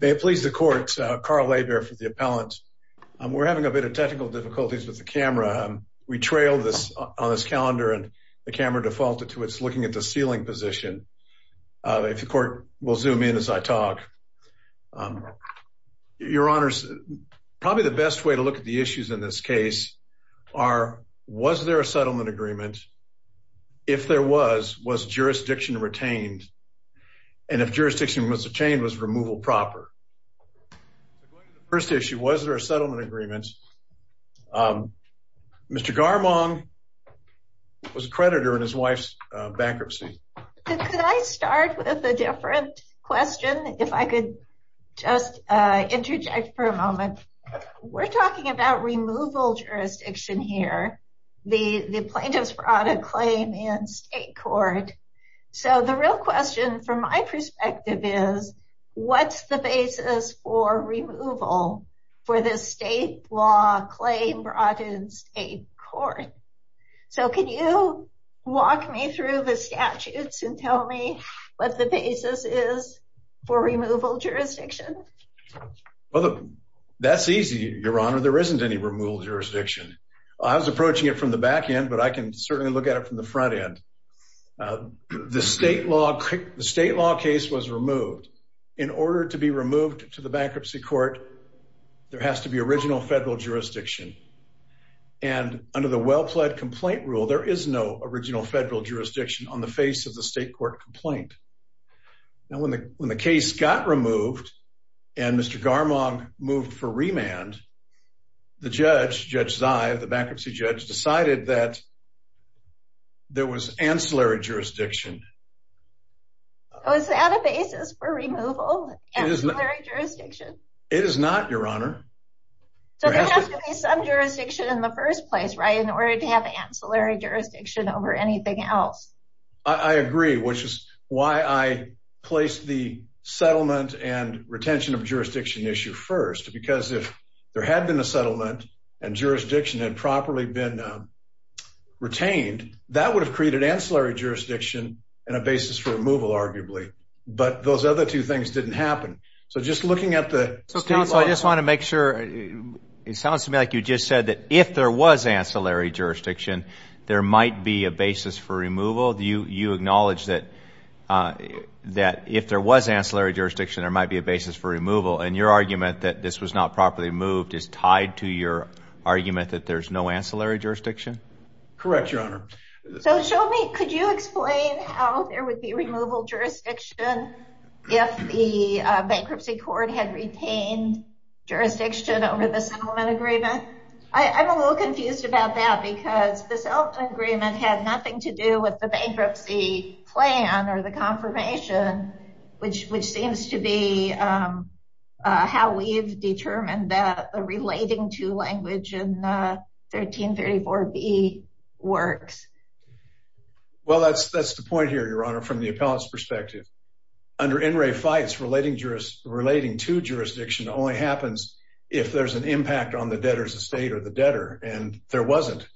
They have pleased the court, Carl Laiber for the appellant. We're having a bit of technical difficulties with the camera. We trailed this on this calendar and the camera defaulted to its looking at the ceiling position. If the court will zoom in as I talk. Your Honor, probably the best way to look at the issues in this case are, was there a settlement agreement? If there was, was jurisdiction retained? And if jurisdiction was retained, was removal proper? First issue, was there a settlement agreement? Mr. Garmong was a creditor in his wife's bankruptcy. Could I start with a different question? If I could just interject for a moment. We're talking about removal jurisdiction here. The plaintiffs brought a claim in the state court. So the real question from my perspective is, what's the basis for removal for this state law claim brought in state court? So can you walk me through the statutes and tell me what the basis is for removal jurisdiction? Well, that's easy, Your Honor. There isn't any removal jurisdiction. I was approaching it from the back end, but I can certainly look at it from the front end. The state law case was removed. In order to be removed to the bankruptcy court, there has to be original federal jurisdiction. And under the well pled complaint rule, there is no original federal jurisdiction on the face of the state court complaint. Now, when the case got removed and Mr. Garmong moved for remand, the judge, Judge Zive, the bankruptcy judge, decided that there was ancillary jurisdiction. Oh, is that a basis for removal? It is not, Your Honor. So there has to be some jurisdiction in the first place, right? In order to have ancillary jurisdiction over anything else. I agree, which is why I placed the settlement and retention of jurisdiction issue first. Because if there had been a settlement and jurisdiction had properly been retained, that would have created ancillary jurisdiction and a basis for removal, arguably. But those other two things didn't happen. So just looking at the state law... So, counsel, I just want to make sure. It sounds to me like you just said that if there was ancillary jurisdiction, there might be a basis for removal. Do you acknowledge that if there was ancillary jurisdiction, there might be a basis for removal? And your argument that this was not properly moved is tied to your argument that there's no ancillary jurisdiction? Correct, Your Honor. So show me, could you explain how there would be removal jurisdiction if the bankruptcy court had retained jurisdiction over the settlement agreement? I'm a little confused about that because the settlement agreement had nothing to do with the bankruptcy plan or the confirmation, which seems to be how we've determined that relating to language in 1334B works. Well, that's the point here, Your Honor, from the appellant's perspective. Under NRA FITES, relating to jurisdiction only happens if there's an impact on the debtor's estate or the debtor. And there wasn't.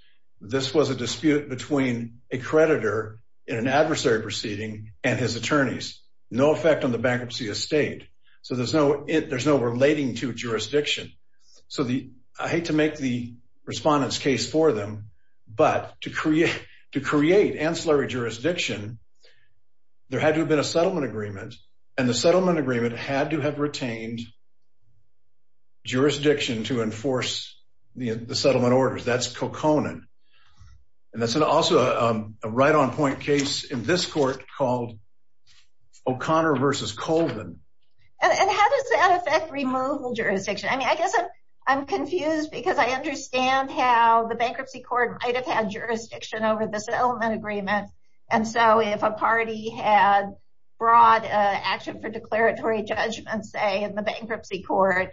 This was a dispute between a creditor in an adversary proceeding and his attorneys. No effect on the debtor's estate. So there's no relating to jurisdiction. So I hate to make the respondent's case for them, but to create ancillary jurisdiction, there had to have been a settlement agreement, and the settlement agreement had to have retained jurisdiction to enforce the settlement orders. That's coconan. And that's also a right-on-point case in this court called O'Connor v. Colvin. And how does that affect removal jurisdiction? I mean, I guess I'm confused because I understand how the bankruptcy court might have had jurisdiction over the settlement agreement. And so if a party had brought an action for declaratory judgment, say, in the bankruptcy court,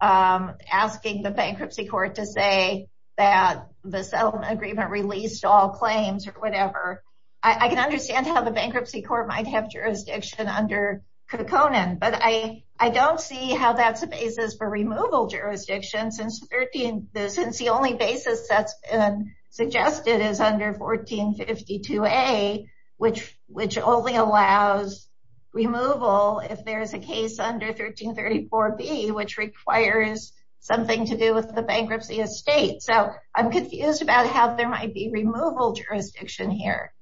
asking the bankruptcy court to say that the settlement agreement released all claims or whatever, I can understand how the bankruptcy court might have jurisdiction under coconan. But I don't see how that's a basis for removal jurisdiction, since the only basis that's been suggested is under 1452A, which only allows removal if there's a case under 1334B, which requires something to do with the bankruptcy estate. So I'm confused about how there might be removal jurisdiction here.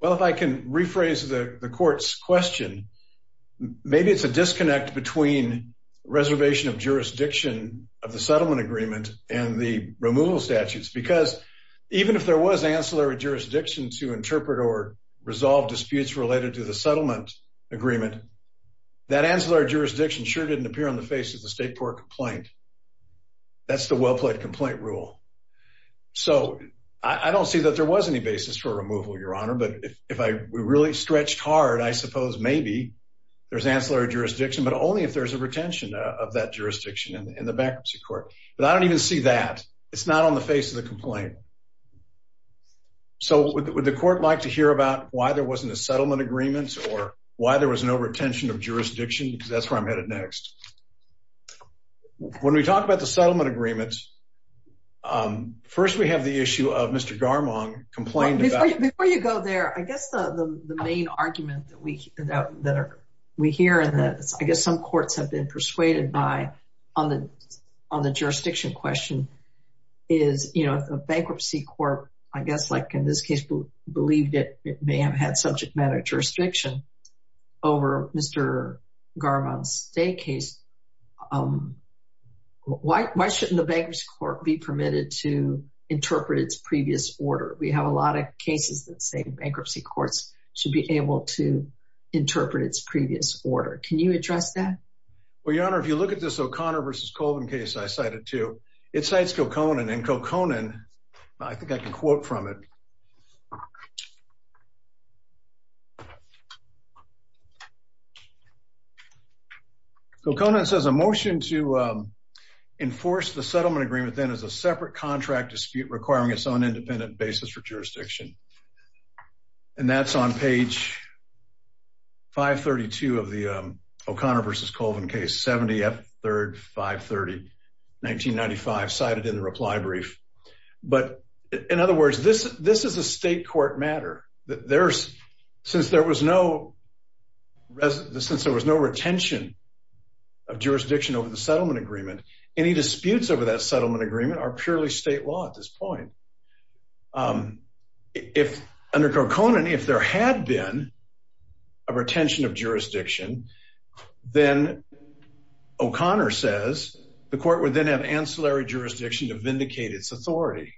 Well, if I can rephrase the court's question, maybe it's a disconnect between reservation of jurisdiction of the settlement agreement and the removal statutes. Because even if there was ancillary jurisdiction to interpret or resolve disputes related to the settlement agreement, that ancillary jurisdiction sure didn't appear on the face of the state court complaint. That's the well-played complaint rule. So I don't see that there was any basis for removal, Your Honor. But if we really stretched hard, I suppose maybe there's ancillary jurisdiction, but only if there's a retention of that jurisdiction in the bankruptcy court. But I don't even see that. It's not on the face of the complaint. So would the court like to hear about why there wasn't a settlement agreement or why there was no retention of jurisdiction? Because that's where I'm headed next. When we talk about the settlement agreements, first we have the issue of Mr. Garmon complained about. Before you go there, I guess the main argument that we hear and that I guess some courts have been persuaded by on the jurisdiction question is, you know, a bankruptcy court, I guess like in this case, believed it may have had subject matter jurisdiction over Mr. Garmon's day case. Um, why? Why shouldn't the bankers court be permitted to interpret its previous order? We have a lot of cases that say bankruptcy courts should be able to interpret its previous order. Can you address that? Well, Your Honor, if you look at this O'Connor versus Colvin case, I cited two. It cites Coconan and Coconan. I think I can quote from it. Coconan says a motion to enforce the settlement agreement then is a separate contract dispute requiring its own independent basis for jurisdiction. And in other words, this this is a state court matter that there's since there was no since there was no retention of jurisdiction over the settlement agreement, any disputes over that settlement agreement are purely state law at this point. Um, if under Coconan, if there had been a retention of ancillary jurisdiction to vindicate its authority,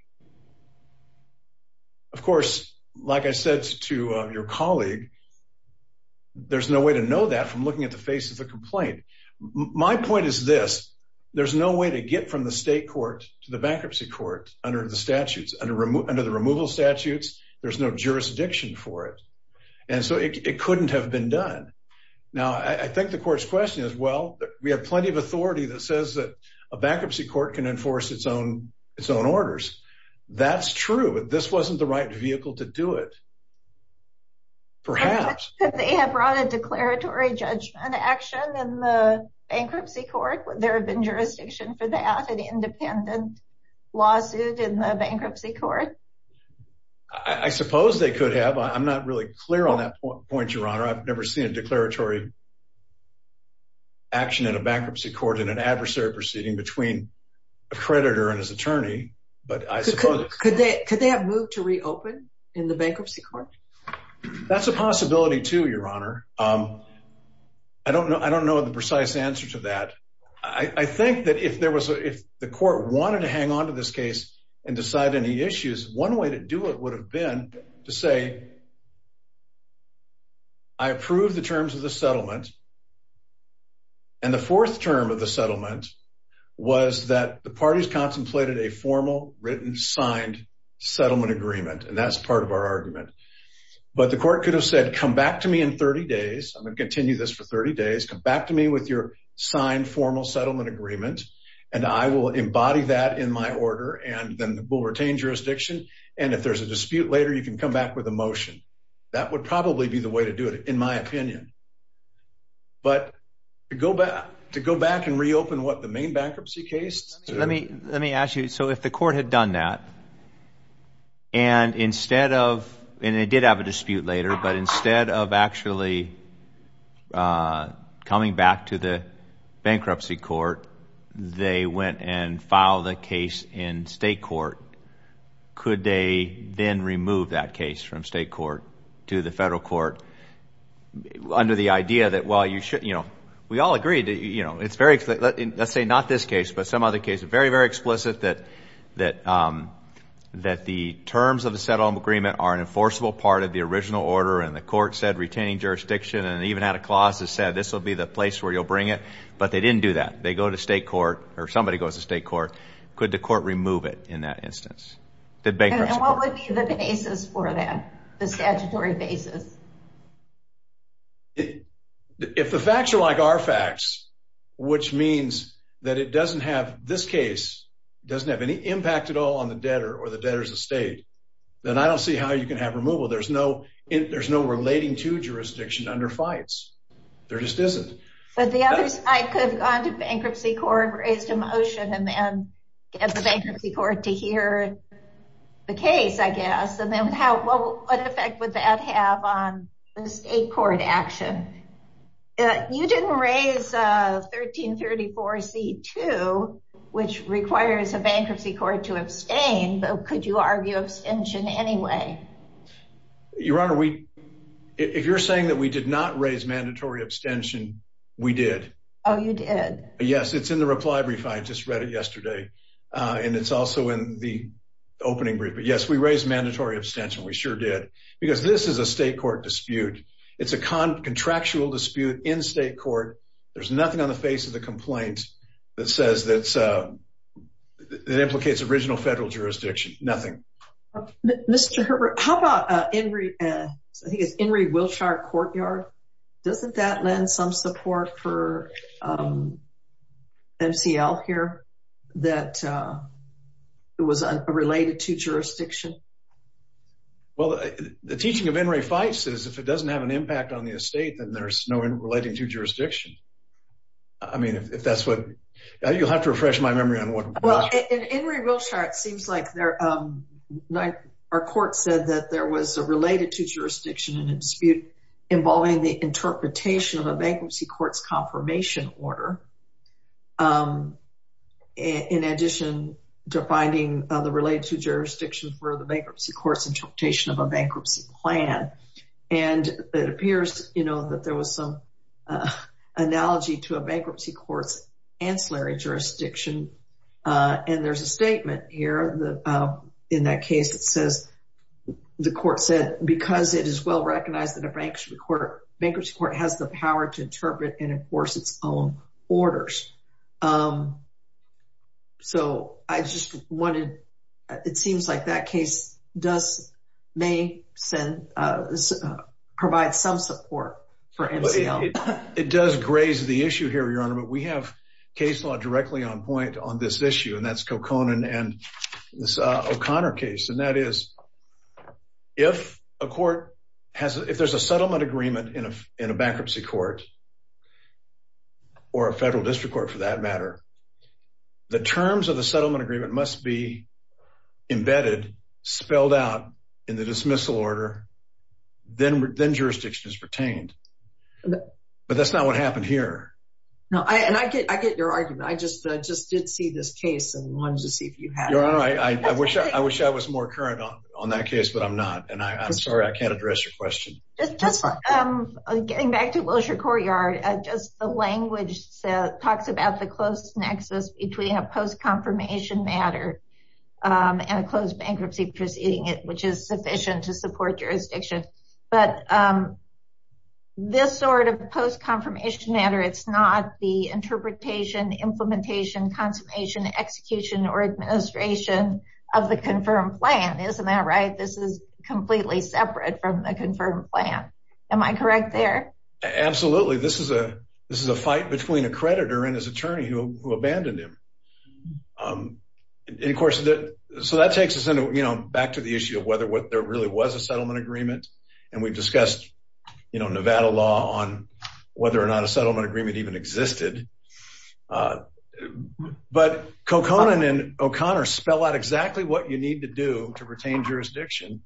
of course, like I said to your colleague, there's no way to know that from looking at the face of the complaint. My point is this. There's no way to get from the state court to the bankruptcy court under the statutes under under the removal statutes. There's no jurisdiction for it, and so it couldn't have been done. Now, I think the court's question is, well, we have plenty of authority that says that a bankruptcy court can enforce its own its own orders. That's true. But this wasn't the right vehicle to do it. Perhaps they have brought a declaratory judgment action in the bankruptcy court. Would there have been jurisdiction for that independent lawsuit in the bankruptcy court? I suppose they could have. I'm not really clear on that point, Your Honor. I've never seen a declaratory action in a bankruptcy court in an adversary proceeding between a creditor and his attorney. But I suppose could they could they have moved to reopen in the bankruptcy court? That's a possibility to your honor. Um, I don't know. I don't know the precise answer to that. I think that if there was if the court wanted to hang onto this case and decide any issues, one way to do it would have been to say I approve the terms of the settlement. And the fourth term of the settlement was that the parties contemplated a formal written signed settlement agreement. And that's part of our argument. But the court could have said, Come back to me in 30 days. I'm gonna continue this for 30 days. Come back to me with your signed formal settlement agreement, and I will embody that in my order. And then we'll retain jurisdiction. And if there's a dispute later, you can come back with a motion. That would probably be the way to do it, in my opinion. But go back to go back and reopen what the main bankruptcy case. Let me let me ask you. So if the court had done that and instead of and it did have a dispute later, but instead of actually, uh, coming back to the bankruptcy court, they went and file the case in state court. Could they then remove that case from state court to the federal court? Under the idea that while you should, you know, we all agree that, you know, it's very, let's say not this case, but some other case, very, very explicit that that, um, that the terms of the settlement agreement are an enforceable part of the original order. And the court said, retaining jurisdiction and even had a clause that said this will be the place where you'll bring it. But they didn't do that. They go to state court or somebody goes to state court. Could the court remove it in that instance? The bankruptcy court. And what would be the basis for that? The statutory basis. If the facts are like our facts, which means that it doesn't have this case doesn't have any impact at all on the debtor or the debtors of state, then I don't see how you can have removal. There's no there's no relating to jurisdiction under fights. There just isn't. But the others I could have gone to bankruptcy court, raised a motion and the bankruptcy court to hear the case, I guess. And then how? What effect would that have on the state court action? You didn't raise 13 34 C two, which requires a bankruptcy court to abstain. But could you argue extension anyway? Your Honor, we if you're saying that we did not raise mandatory abstention, we did. Oh, you did. Yes, it's in the reply brief. I just read it yesterday, and it's also in the opening brief. But yes, we raised mandatory abstention. We sure did, because this is a state court dispute. It's a contractual dispute in state court. There's nothing on the face of the complaint that says that it implicates original federal jurisdiction. Nothing. Mr. Herbert, how about Henry? I think it's Henry Wilshire Courtyard. Doesn't that lend some support for, um, M. C. L. Here that, uh, it was a related to jurisdiction. Well, the teaching of Henry fights is if it doesn't have an impact on the estate, then there's no relating to jurisdiction. I mean, if that's what you'll have to refresh my memory on what? Well, Henry Wilshire. It seems like they're, um, like our court said that there was a related to bankruptcy court's confirmation order. Um, in addition to finding the related to jurisdiction for the bankruptcy court's interpretation of a bankruptcy plan, and it appears, you know, that there was some, uh, analogy to a bankruptcy court's ancillary jurisdiction. Uh, and there's a statement here that, uh, in that case, it says the court said because it is well recognized that a bankruptcy court has the power to interpret and enforce its own orders. Um, so I just wanted. It seems like that case does may send, uh, provide some support for M. C. L. It does graze the issue here, Your Honor. But we have case law directly on point on this issue, and that's Coconan and this O'Connor case. And that is if a court has if there's a settlement agreement in a bankruptcy court or a federal district court, for that matter, the terms of the settlement agreement must be embedded, spelled out in the dismissal order. Then then jurisdiction is retained. But that's not what happened here. And I get I get your argument. I just I just did see this case and wanted to see if you had. I wish I wish I was more current on on that case, but I'm not. And I'm sorry. I can't address your question. Just getting back to Wilshire Courtyard. Just the language talks about the close nexus between a post confirmation matter, um, and a closed bankruptcy proceeding it, which is sufficient to support jurisdiction. But, um, this sort of post confirmation matter, it's not the interpretation, implementation, consummation, execution or administration of the confirmed plan. Isn't that right? This is completely separate from the confirmed plan. Am I correct there? Absolutely. This is a this is a fight between a creditor and his attorney who abandoned him. Um, of course, so that takes us into, you know, back to the issue of whether what there really was a settlement agreement. And we've discussed, you know, Nevada law on whether or not a settlement agreement even existed. Uh, but Coconan and O'Connor spell out exactly what you need to do to retain jurisdiction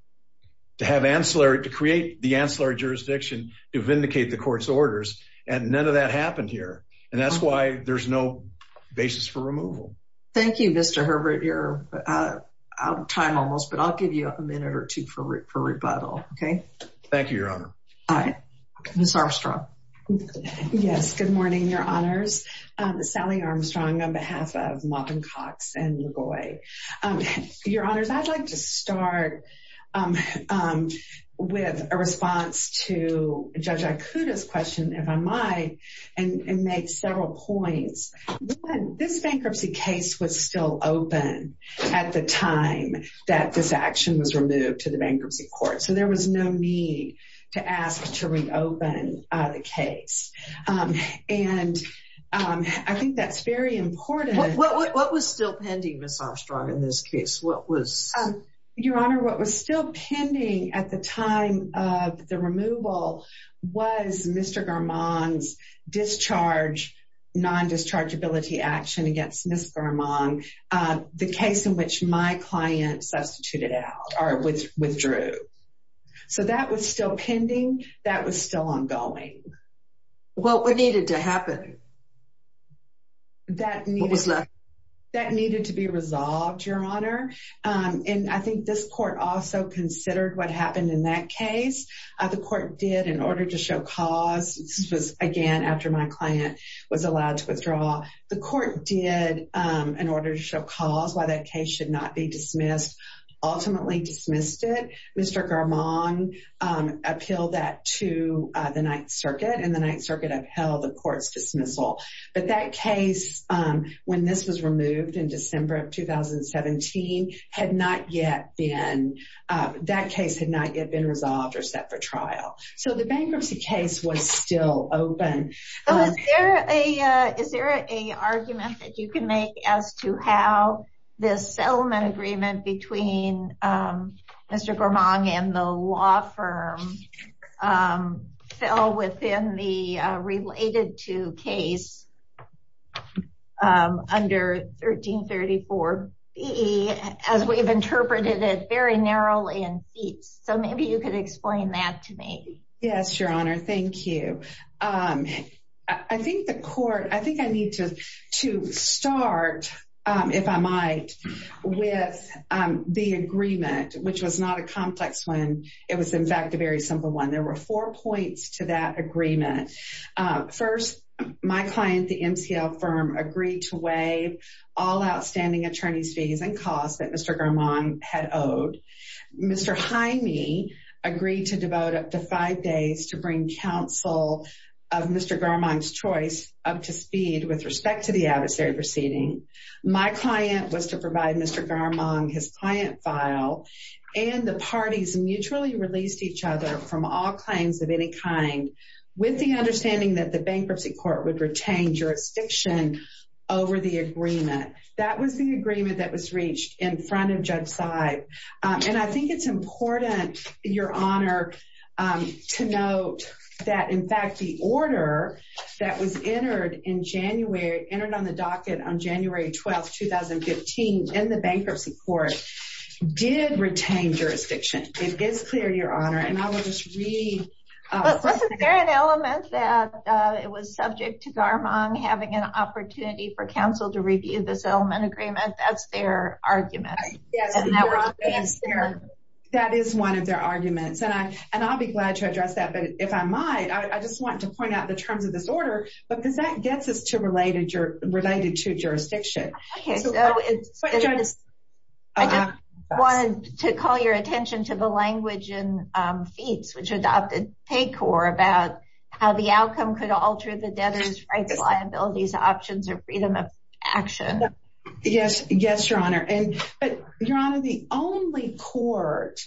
to have ancillary to create the ancillary jurisdiction to vindicate the court's orders. And none of that happened here. And that's why there's no basis for removal. Thank you, Mr Herbert. You're out of time almost, but I'll give you a minute or two for for rebuttal. Okay, thank you, All right, Mr Armstrong. Yes. Good morning. Your honors. Sally Armstrong on behalf of Martin Cox and your boy. Um, your honors, I'd like to start, um, um, with a response to Judge Acuda's question if I might and make several points. This bankruptcy case was still open at the time that this action was to ask to reopen the case. Um, and, um, I think that's very important. What was still pending? Miss Armstrong in this case? What was your honor? What was still pending at the time of the removal? Was Mr Garmon's discharge non discharge ability action against Miss Garmon? Uh, the case in which my client substituted out or withdrew. So that was still pending. That was still ongoing. Well, what needed to happen that needed that needed to be resolved your honor. Um, and I think this court also considered what happened in that case. The court did in order to show cause was again after my client was allowed to withdraw. The court did, um, in order to show cause why that case should not be dismissed, ultimately dismissed it. Mr Garmon, um, appealed that to the Ninth Circuit and the Ninth Circuit upheld the court's dismissal. But that case, um, when this was removed in December of 2017 had not yet been, uh, that case had not yet been resolved or set for trial. So the bankruptcy case was still open. Is there a is there a how this settlement agreement between, um, Mr Garmon and the law firm, um, fell within the related to case? Um, under 13 34 B. As we've interpreted it very narrow in seats. So maybe you could explain that to me. Yes, Your Honor. Thank you. Um, I think the court I think I need to to start if I might with the agreement, which was not a complex when it was, in fact, a very simple one. There were four points to that agreement. First, my client, the MCL firm agreed to waive all outstanding attorneys fees and cost that Mr Garmon had owed. Mr Jaime agreed to devote up to five days to bring counsel of Mr Garmon's choice up to speed with respect to the adversary proceeding. My client was to provide Mr Garmon his client file, and the parties mutually released each other from all claims of any kind with the understanding that the bankruptcy court would retain jurisdiction over the agreement. That was the agreement that was reached in front of Judge side. And I think it's important, Your Honor, to note that, in fact, the order that was entered in January entered on the docket on January 12th, 2015 in the bankruptcy court did retain jurisdiction. It is clear, Your Honor. And I will just read. Is there an element that it was subject to Garmon having an opportunity for counsel to review this element agreement? That's their argument. Yes, Your Honor, that is one of their arguments, and I'll be glad to address that. But if I might, I just want to point out the terms of this order, because that gets us to related to jurisdiction. I just wanted to call your attention to the language in FEATS, which adopted PAYCORP about how the outcome could alter the debtor's rights, liabilities, options, or freedom of action. Yes. Yes, Your Honor. But, Your Honor, the only court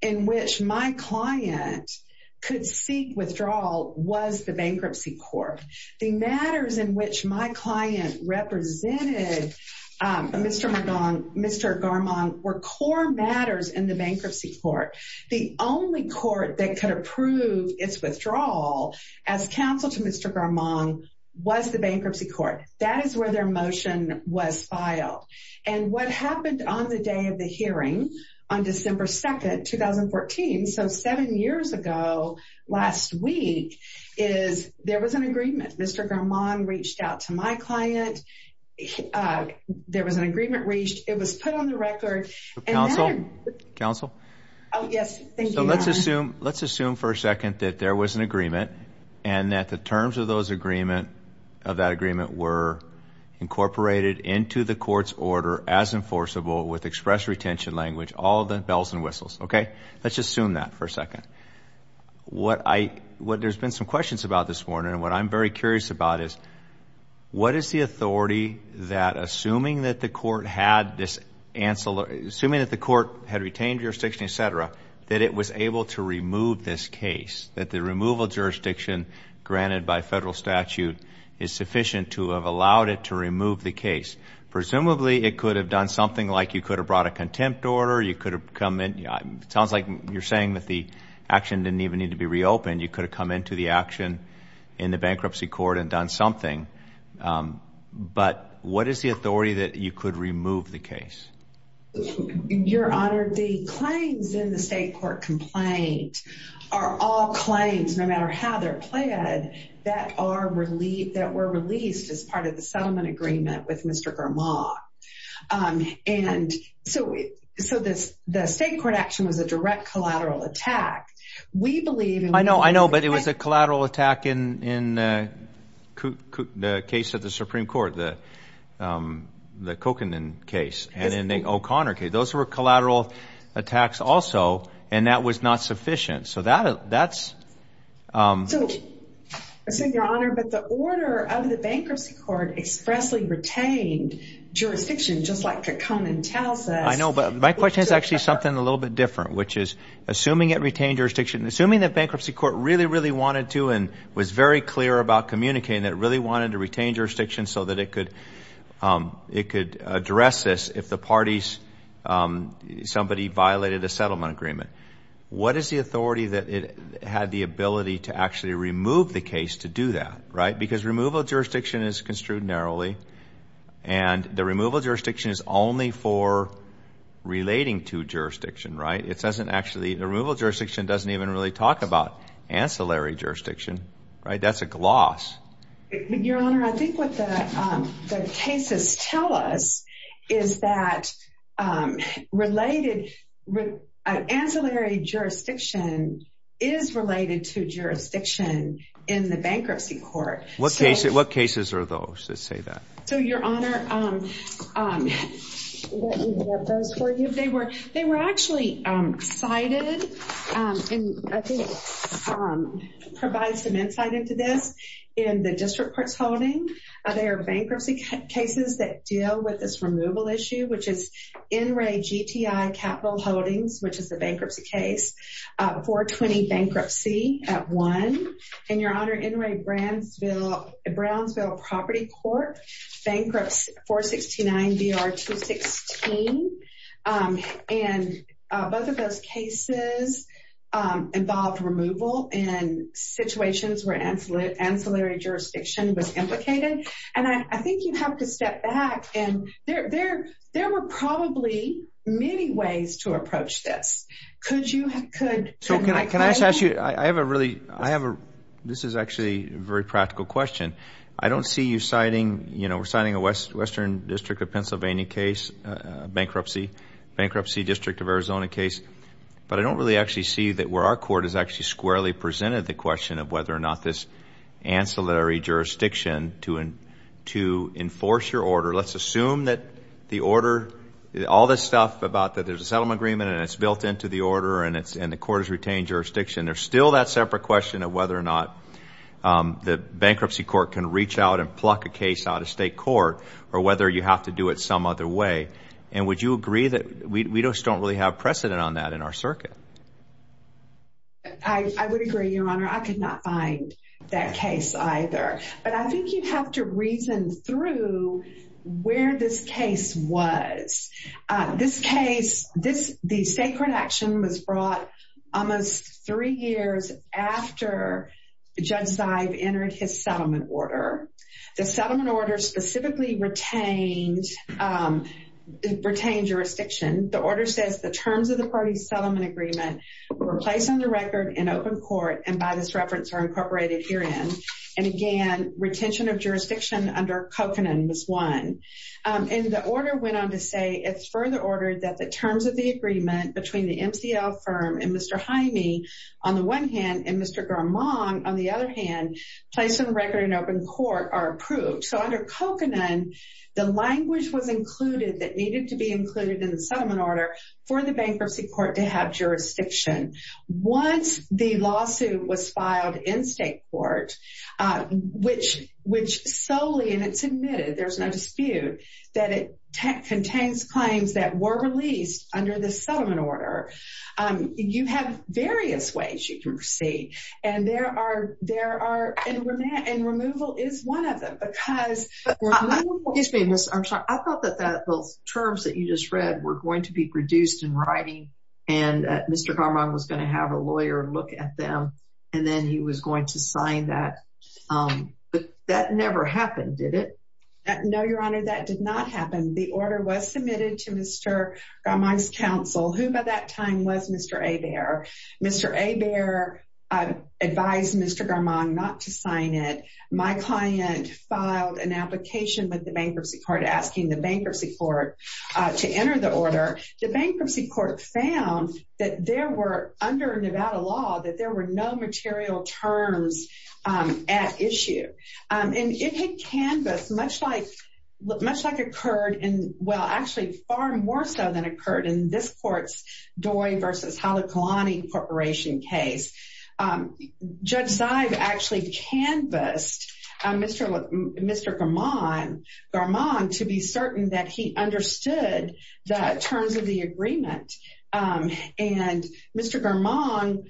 in which my client could seek withdrawal was the bankruptcy court. The matters in which my client represented Mr. Garmon were core matters in the bankruptcy court. The only court that could approve its withdrawal as counsel to Mr. Garmon was the bankruptcy court. That is where their motion was filed. And what happened on the day of the hearing, on December 2nd, 2014, so seven years ago last week, is there was an agreement. Mr. Garmon reached out to my client. There was an agreement reached. It was put on the record. Counsel? Counsel? Oh, yes. Thank you, Your Honor. Let's assume for a second that there was an agreement and that the terms of that agreement were incorporated into the court's order as enforceable with express retention language, all the bells and whistles. Okay? Let's just assume that for a second. There's been some questions about this morning, and what I'm very curious about is, what is the authority that assuming that the court had retained jurisdiction, et cetera, that it was able to remove this case, that the removal jurisdiction granted by federal statute is sufficient to have allowed it to remove the case? Presumably, it could have done something like you could have brought a contempt order. You could have come in. It sounds like you're saying that the action didn't even need to be reopened. You could have come into the action in the bankruptcy court and done something. But what is the authority that you could remove the case? Your Honor, the claims in the state court complaint are all claims, no matter how they're planned, that were released as part of the settlement agreement with Mr. Grimaud. And so the state court action was a direct collateral attack. We believe... I know, I know, but it was a collateral attack in the case of the Supreme Court, the Kokanen case, and in the O'Connor case. Those were collateral attacks also, and that was not sufficient. So that's... So, Your Honor, but the order of the bankruptcy court expressly retained jurisdiction, just like Kekone tells us... I know, but my question is actually something a little bit different, which is assuming it retained jurisdiction, assuming the bankruptcy court really, really wanted to and was very clear about communicating that it really wanted to retain jurisdiction so that it could address this if the parties, somebody violated a settlement agreement. What is the authority that it had the ability to actually remove the case to do that, right? Because removal jurisdiction is construed narrowly, and the removal jurisdiction is only for ancillary jurisdiction, right? That's a gloss. Your Honor, I think what the cases tell us is that related... Ancillary jurisdiction is related to jurisdiction in the bankruptcy court. What cases are those that say that? So, Your Honor, let me look at those for you. They were actually cited in, I think, provides some insight into this. In the district court's holding, there are bankruptcy cases that deal with this removal issue, which is NRA GTI Capital Holdings, which is the bankruptcy case, 420 Bankruptcy at 1. And, Your Honor, NRA Brownsville Property Court, Bankrupts 469 BR 216. And both of those cases involved removal in situations where ancillary jurisdiction was implicated. And I think you have to step back, and there were probably many ways to approach this. Could you... So can I just ask you, I have a really... This is actually a very practical question. I don't see you citing... We're citing a Western District of Bankruptcy District of Arizona case, but I don't really actually see that where our court has actually squarely presented the question of whether or not this ancillary jurisdiction to enforce your order. Let's assume that the order, all this stuff about that there's a settlement agreement and it's built into the order and the court has retained jurisdiction. There's still that separate question of whether or not the bankruptcy court can reach out and pluck a case out of state court, or whether you have to do it some other way. And would you agree that we just don't really have precedent on that in our circuit? I would agree, Your Honor. I could not find that case either. But I think you have to reason through where this case was. This case, this... The sacred action was brought almost three years after Judge Zive entered his settlement order. The settlement order specifically retained jurisdiction. The order says the terms of the party's settlement agreement were placed on the record in open court and by this reference are incorporated herein. And again, retention of jurisdiction under Covenant was one. And the order went on to say, it's further ordered that the terms of the agreement between the MCL firm and Mr. Jaime, on the one hand, and Mr. Garmon, on the other hand, placed on record in open court are approved. So under Covenant, the language was included that needed to be included in the settlement order for the bankruptcy court to have jurisdiction. Once the lawsuit was filed in state court, which solely, and it's admitted, there's no dispute, that it contains claims that were released under the there are... And removal is one of them because... Excuse me, Ms. Armstrong. I thought that those terms that you just read were going to be produced in writing and Mr. Garmon was going to have a lawyer look at them and then he was going to sign that. But that never happened, did it? No, Your Honor, that did not happen. The order was submitted to Mr. Garmon's counsel, who by that time was Mr. Hebert. Mr. Hebert advised Mr. Garmon not to sign it. My client filed an application with the bankruptcy court asking the bankruptcy court to enter the order. The bankruptcy court found that there were, under Nevada law, that there were no material terms at issue. And it had canvassed much like... Much like occurred in... Well, actually, far more so than occurred in this court's Doi versus Halakalani corporation case. Judge Zive actually canvassed Mr. Garmon to be certain that he understood the terms of the agreement. And Mr. Garmon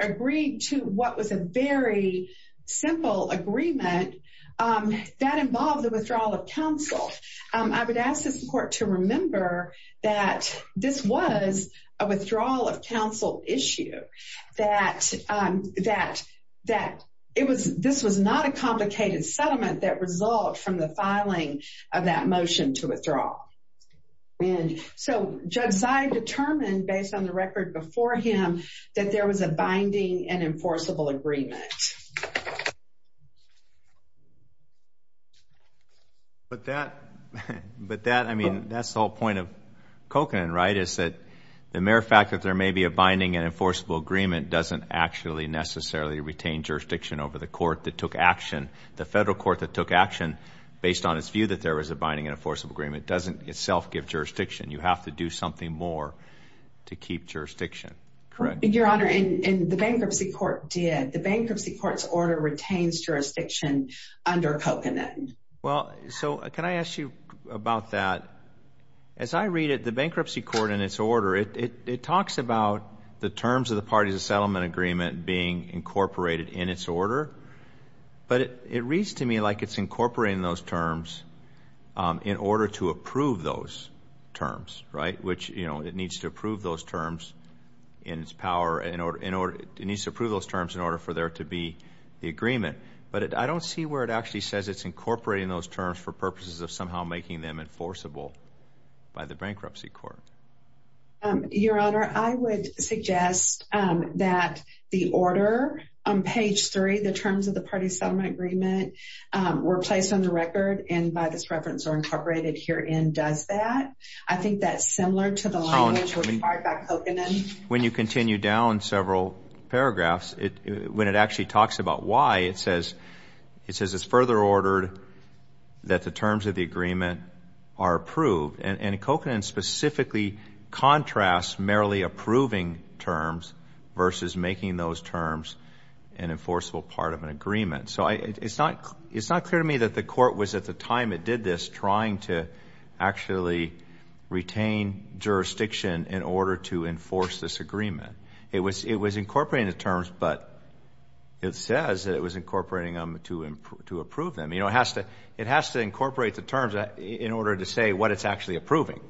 agreed to what was a very simple agreement that involved the withdrawal of counsel. I would ask this court to remember that this was a withdrawal of counsel issue, that it was... This was not a complicated settlement that result from the filing of that motion to withdraw. And so Judge Zive determined, based on the record before him, that there was a binding and enforceable agreement. But that... But that, I mean, that's the whole point of Kokanen, right? Is that the mere fact that there may be a binding and enforceable agreement doesn't actually necessarily retain jurisdiction over the court that took action. The federal court that took action, based on its view that there was a binding and enforceable agreement, doesn't itself give jurisdiction. You have to do something more to keep jurisdiction. Correct? Your honor, and the bankruptcy court did. The bankruptcy court's order retains jurisdiction under Kokanen. Well, so can I ask you about that? As I read it, the bankruptcy court in its order, it talks about the terms of the parties of settlement agreement being incorporated in its order. But it reads to me like it's incorporating those terms in order to approve those terms, right? Which, you know, it needs to approve those terms in its power in order... It needs to approve those terms in order for there to be the agreement. But I don't see where it actually says it's incorporating those terms for purposes of somehow making them enforceable by the bankruptcy court. Your honor, I would suggest that the order on page three, the terms of the parties settlement agreement, were placed on the record and by this similar to the language required by Kokanen? When you continue down several paragraphs, when it actually talks about why, it says it's further ordered that the terms of the agreement are approved. And Kokanen specifically contrasts merely approving terms versus making those terms an enforceable part of an agreement. So it's not clear to me that the court was at the time it did this trying to actually retain jurisdiction in order to enforce this agreement. It was incorporating the terms, but it says that it was incorporating them to approve them. It has to incorporate the terms in order to say what it's actually approving.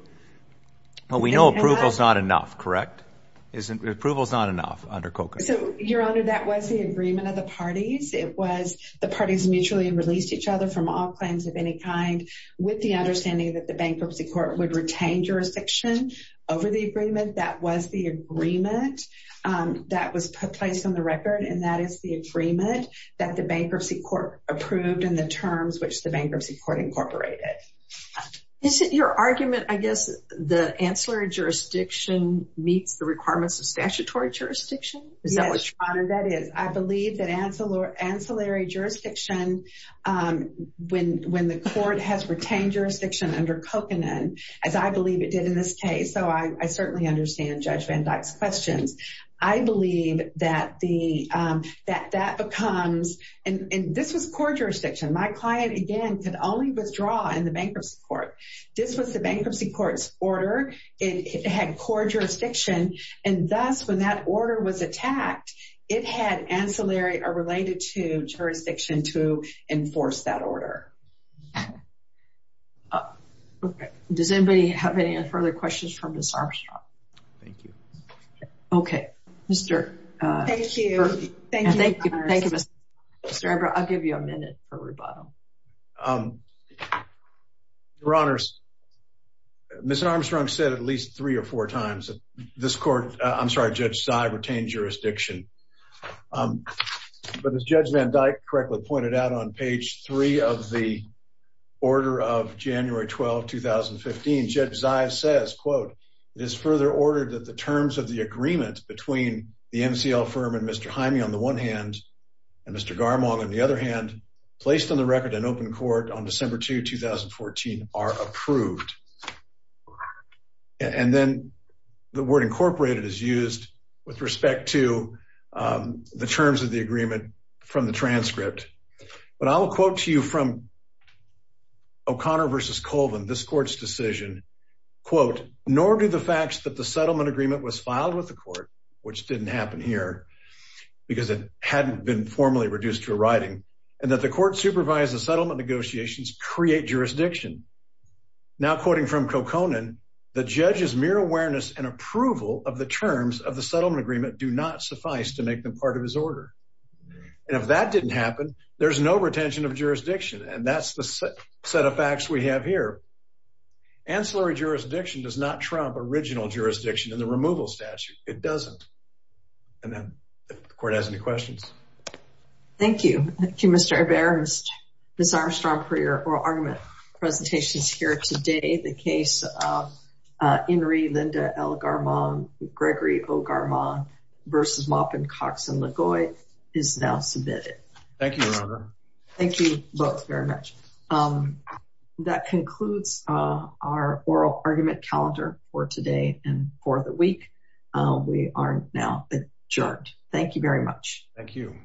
Well, we know approval's not enough, correct? Approval's not enough under Kokanen. Your honor, that was the agreement of the parties. It was the claims of any kind. With the understanding that the bankruptcy court would retain jurisdiction over the agreement, that was the agreement that was placed on the record, and that is the agreement that the bankruptcy court approved and the terms which the bankruptcy court incorporated. Is it your argument, I guess, the ancillary jurisdiction meets the requirements of statutory jurisdiction? Is that what you're... Yes, your honor, that is. I believe that ancillary jurisdiction, when the court has retained jurisdiction under Kokanen, as I believe it did in this case, so I certainly understand Judge Van Dyck's questions. I believe that that becomes... And this was court jurisdiction. My client, again, could only withdraw in the bankruptcy court. This was the bankruptcy court's order. It had court jurisdiction, and thus, when that order was made, the ancillary are related to jurisdiction to enforce that order. Does anybody have any further questions for Ms. Armstrong? Thank you. Okay. Mr... Thank you. Thank you. Thank you, Ms. Armstrong. Mr. Embrough, I'll give you a minute for rebuttal. Your honors, Ms. Armstrong said at least three or four times that this court... I'm sorry, Judge Sy retained jurisdiction. But as Judge Van Dyck correctly pointed out on page three of the order of January 12, 2015, Judge Zives says, quote, it is further ordered that the terms of the agreement between the MCL firm and Mr. Hymie, on the one hand, and Mr. Garmon, on the other hand, placed on the record in open court on December 2, 2014, are approved. And then the word incorporated is used with respect to the terms of the agreement from the transcript. But I will quote to you from O'Connor versus Colvin, this court's decision, quote, nor do the facts that the settlement agreement was filed with the court, which didn't happen here because it hadn't been formally reduced to a writing, and that the court supervised the settlement negotiations create jurisdiction. Now, quoting from Koconen, the judge's mere awareness and approval of the agreement make them part of his order. And if that didn't happen, there's no retention of jurisdiction. And that's the set of facts we have here. Ancillary jurisdiction does not trump original jurisdiction in the removal statute. It doesn't. And then, if the court has any questions. Thank you. Thank you, Mr. Ibarra. Ms. Armstrong, for your oral argument presentations here today, the case of Inri Linda L. Garmon, Gregory O. Jackson, LaGoy, is now submitted. Thank you, Your Honor. Thank you both very much. That concludes our oral argument calendar for today and for the week. We are now adjourned. Thank you very much. Thank you.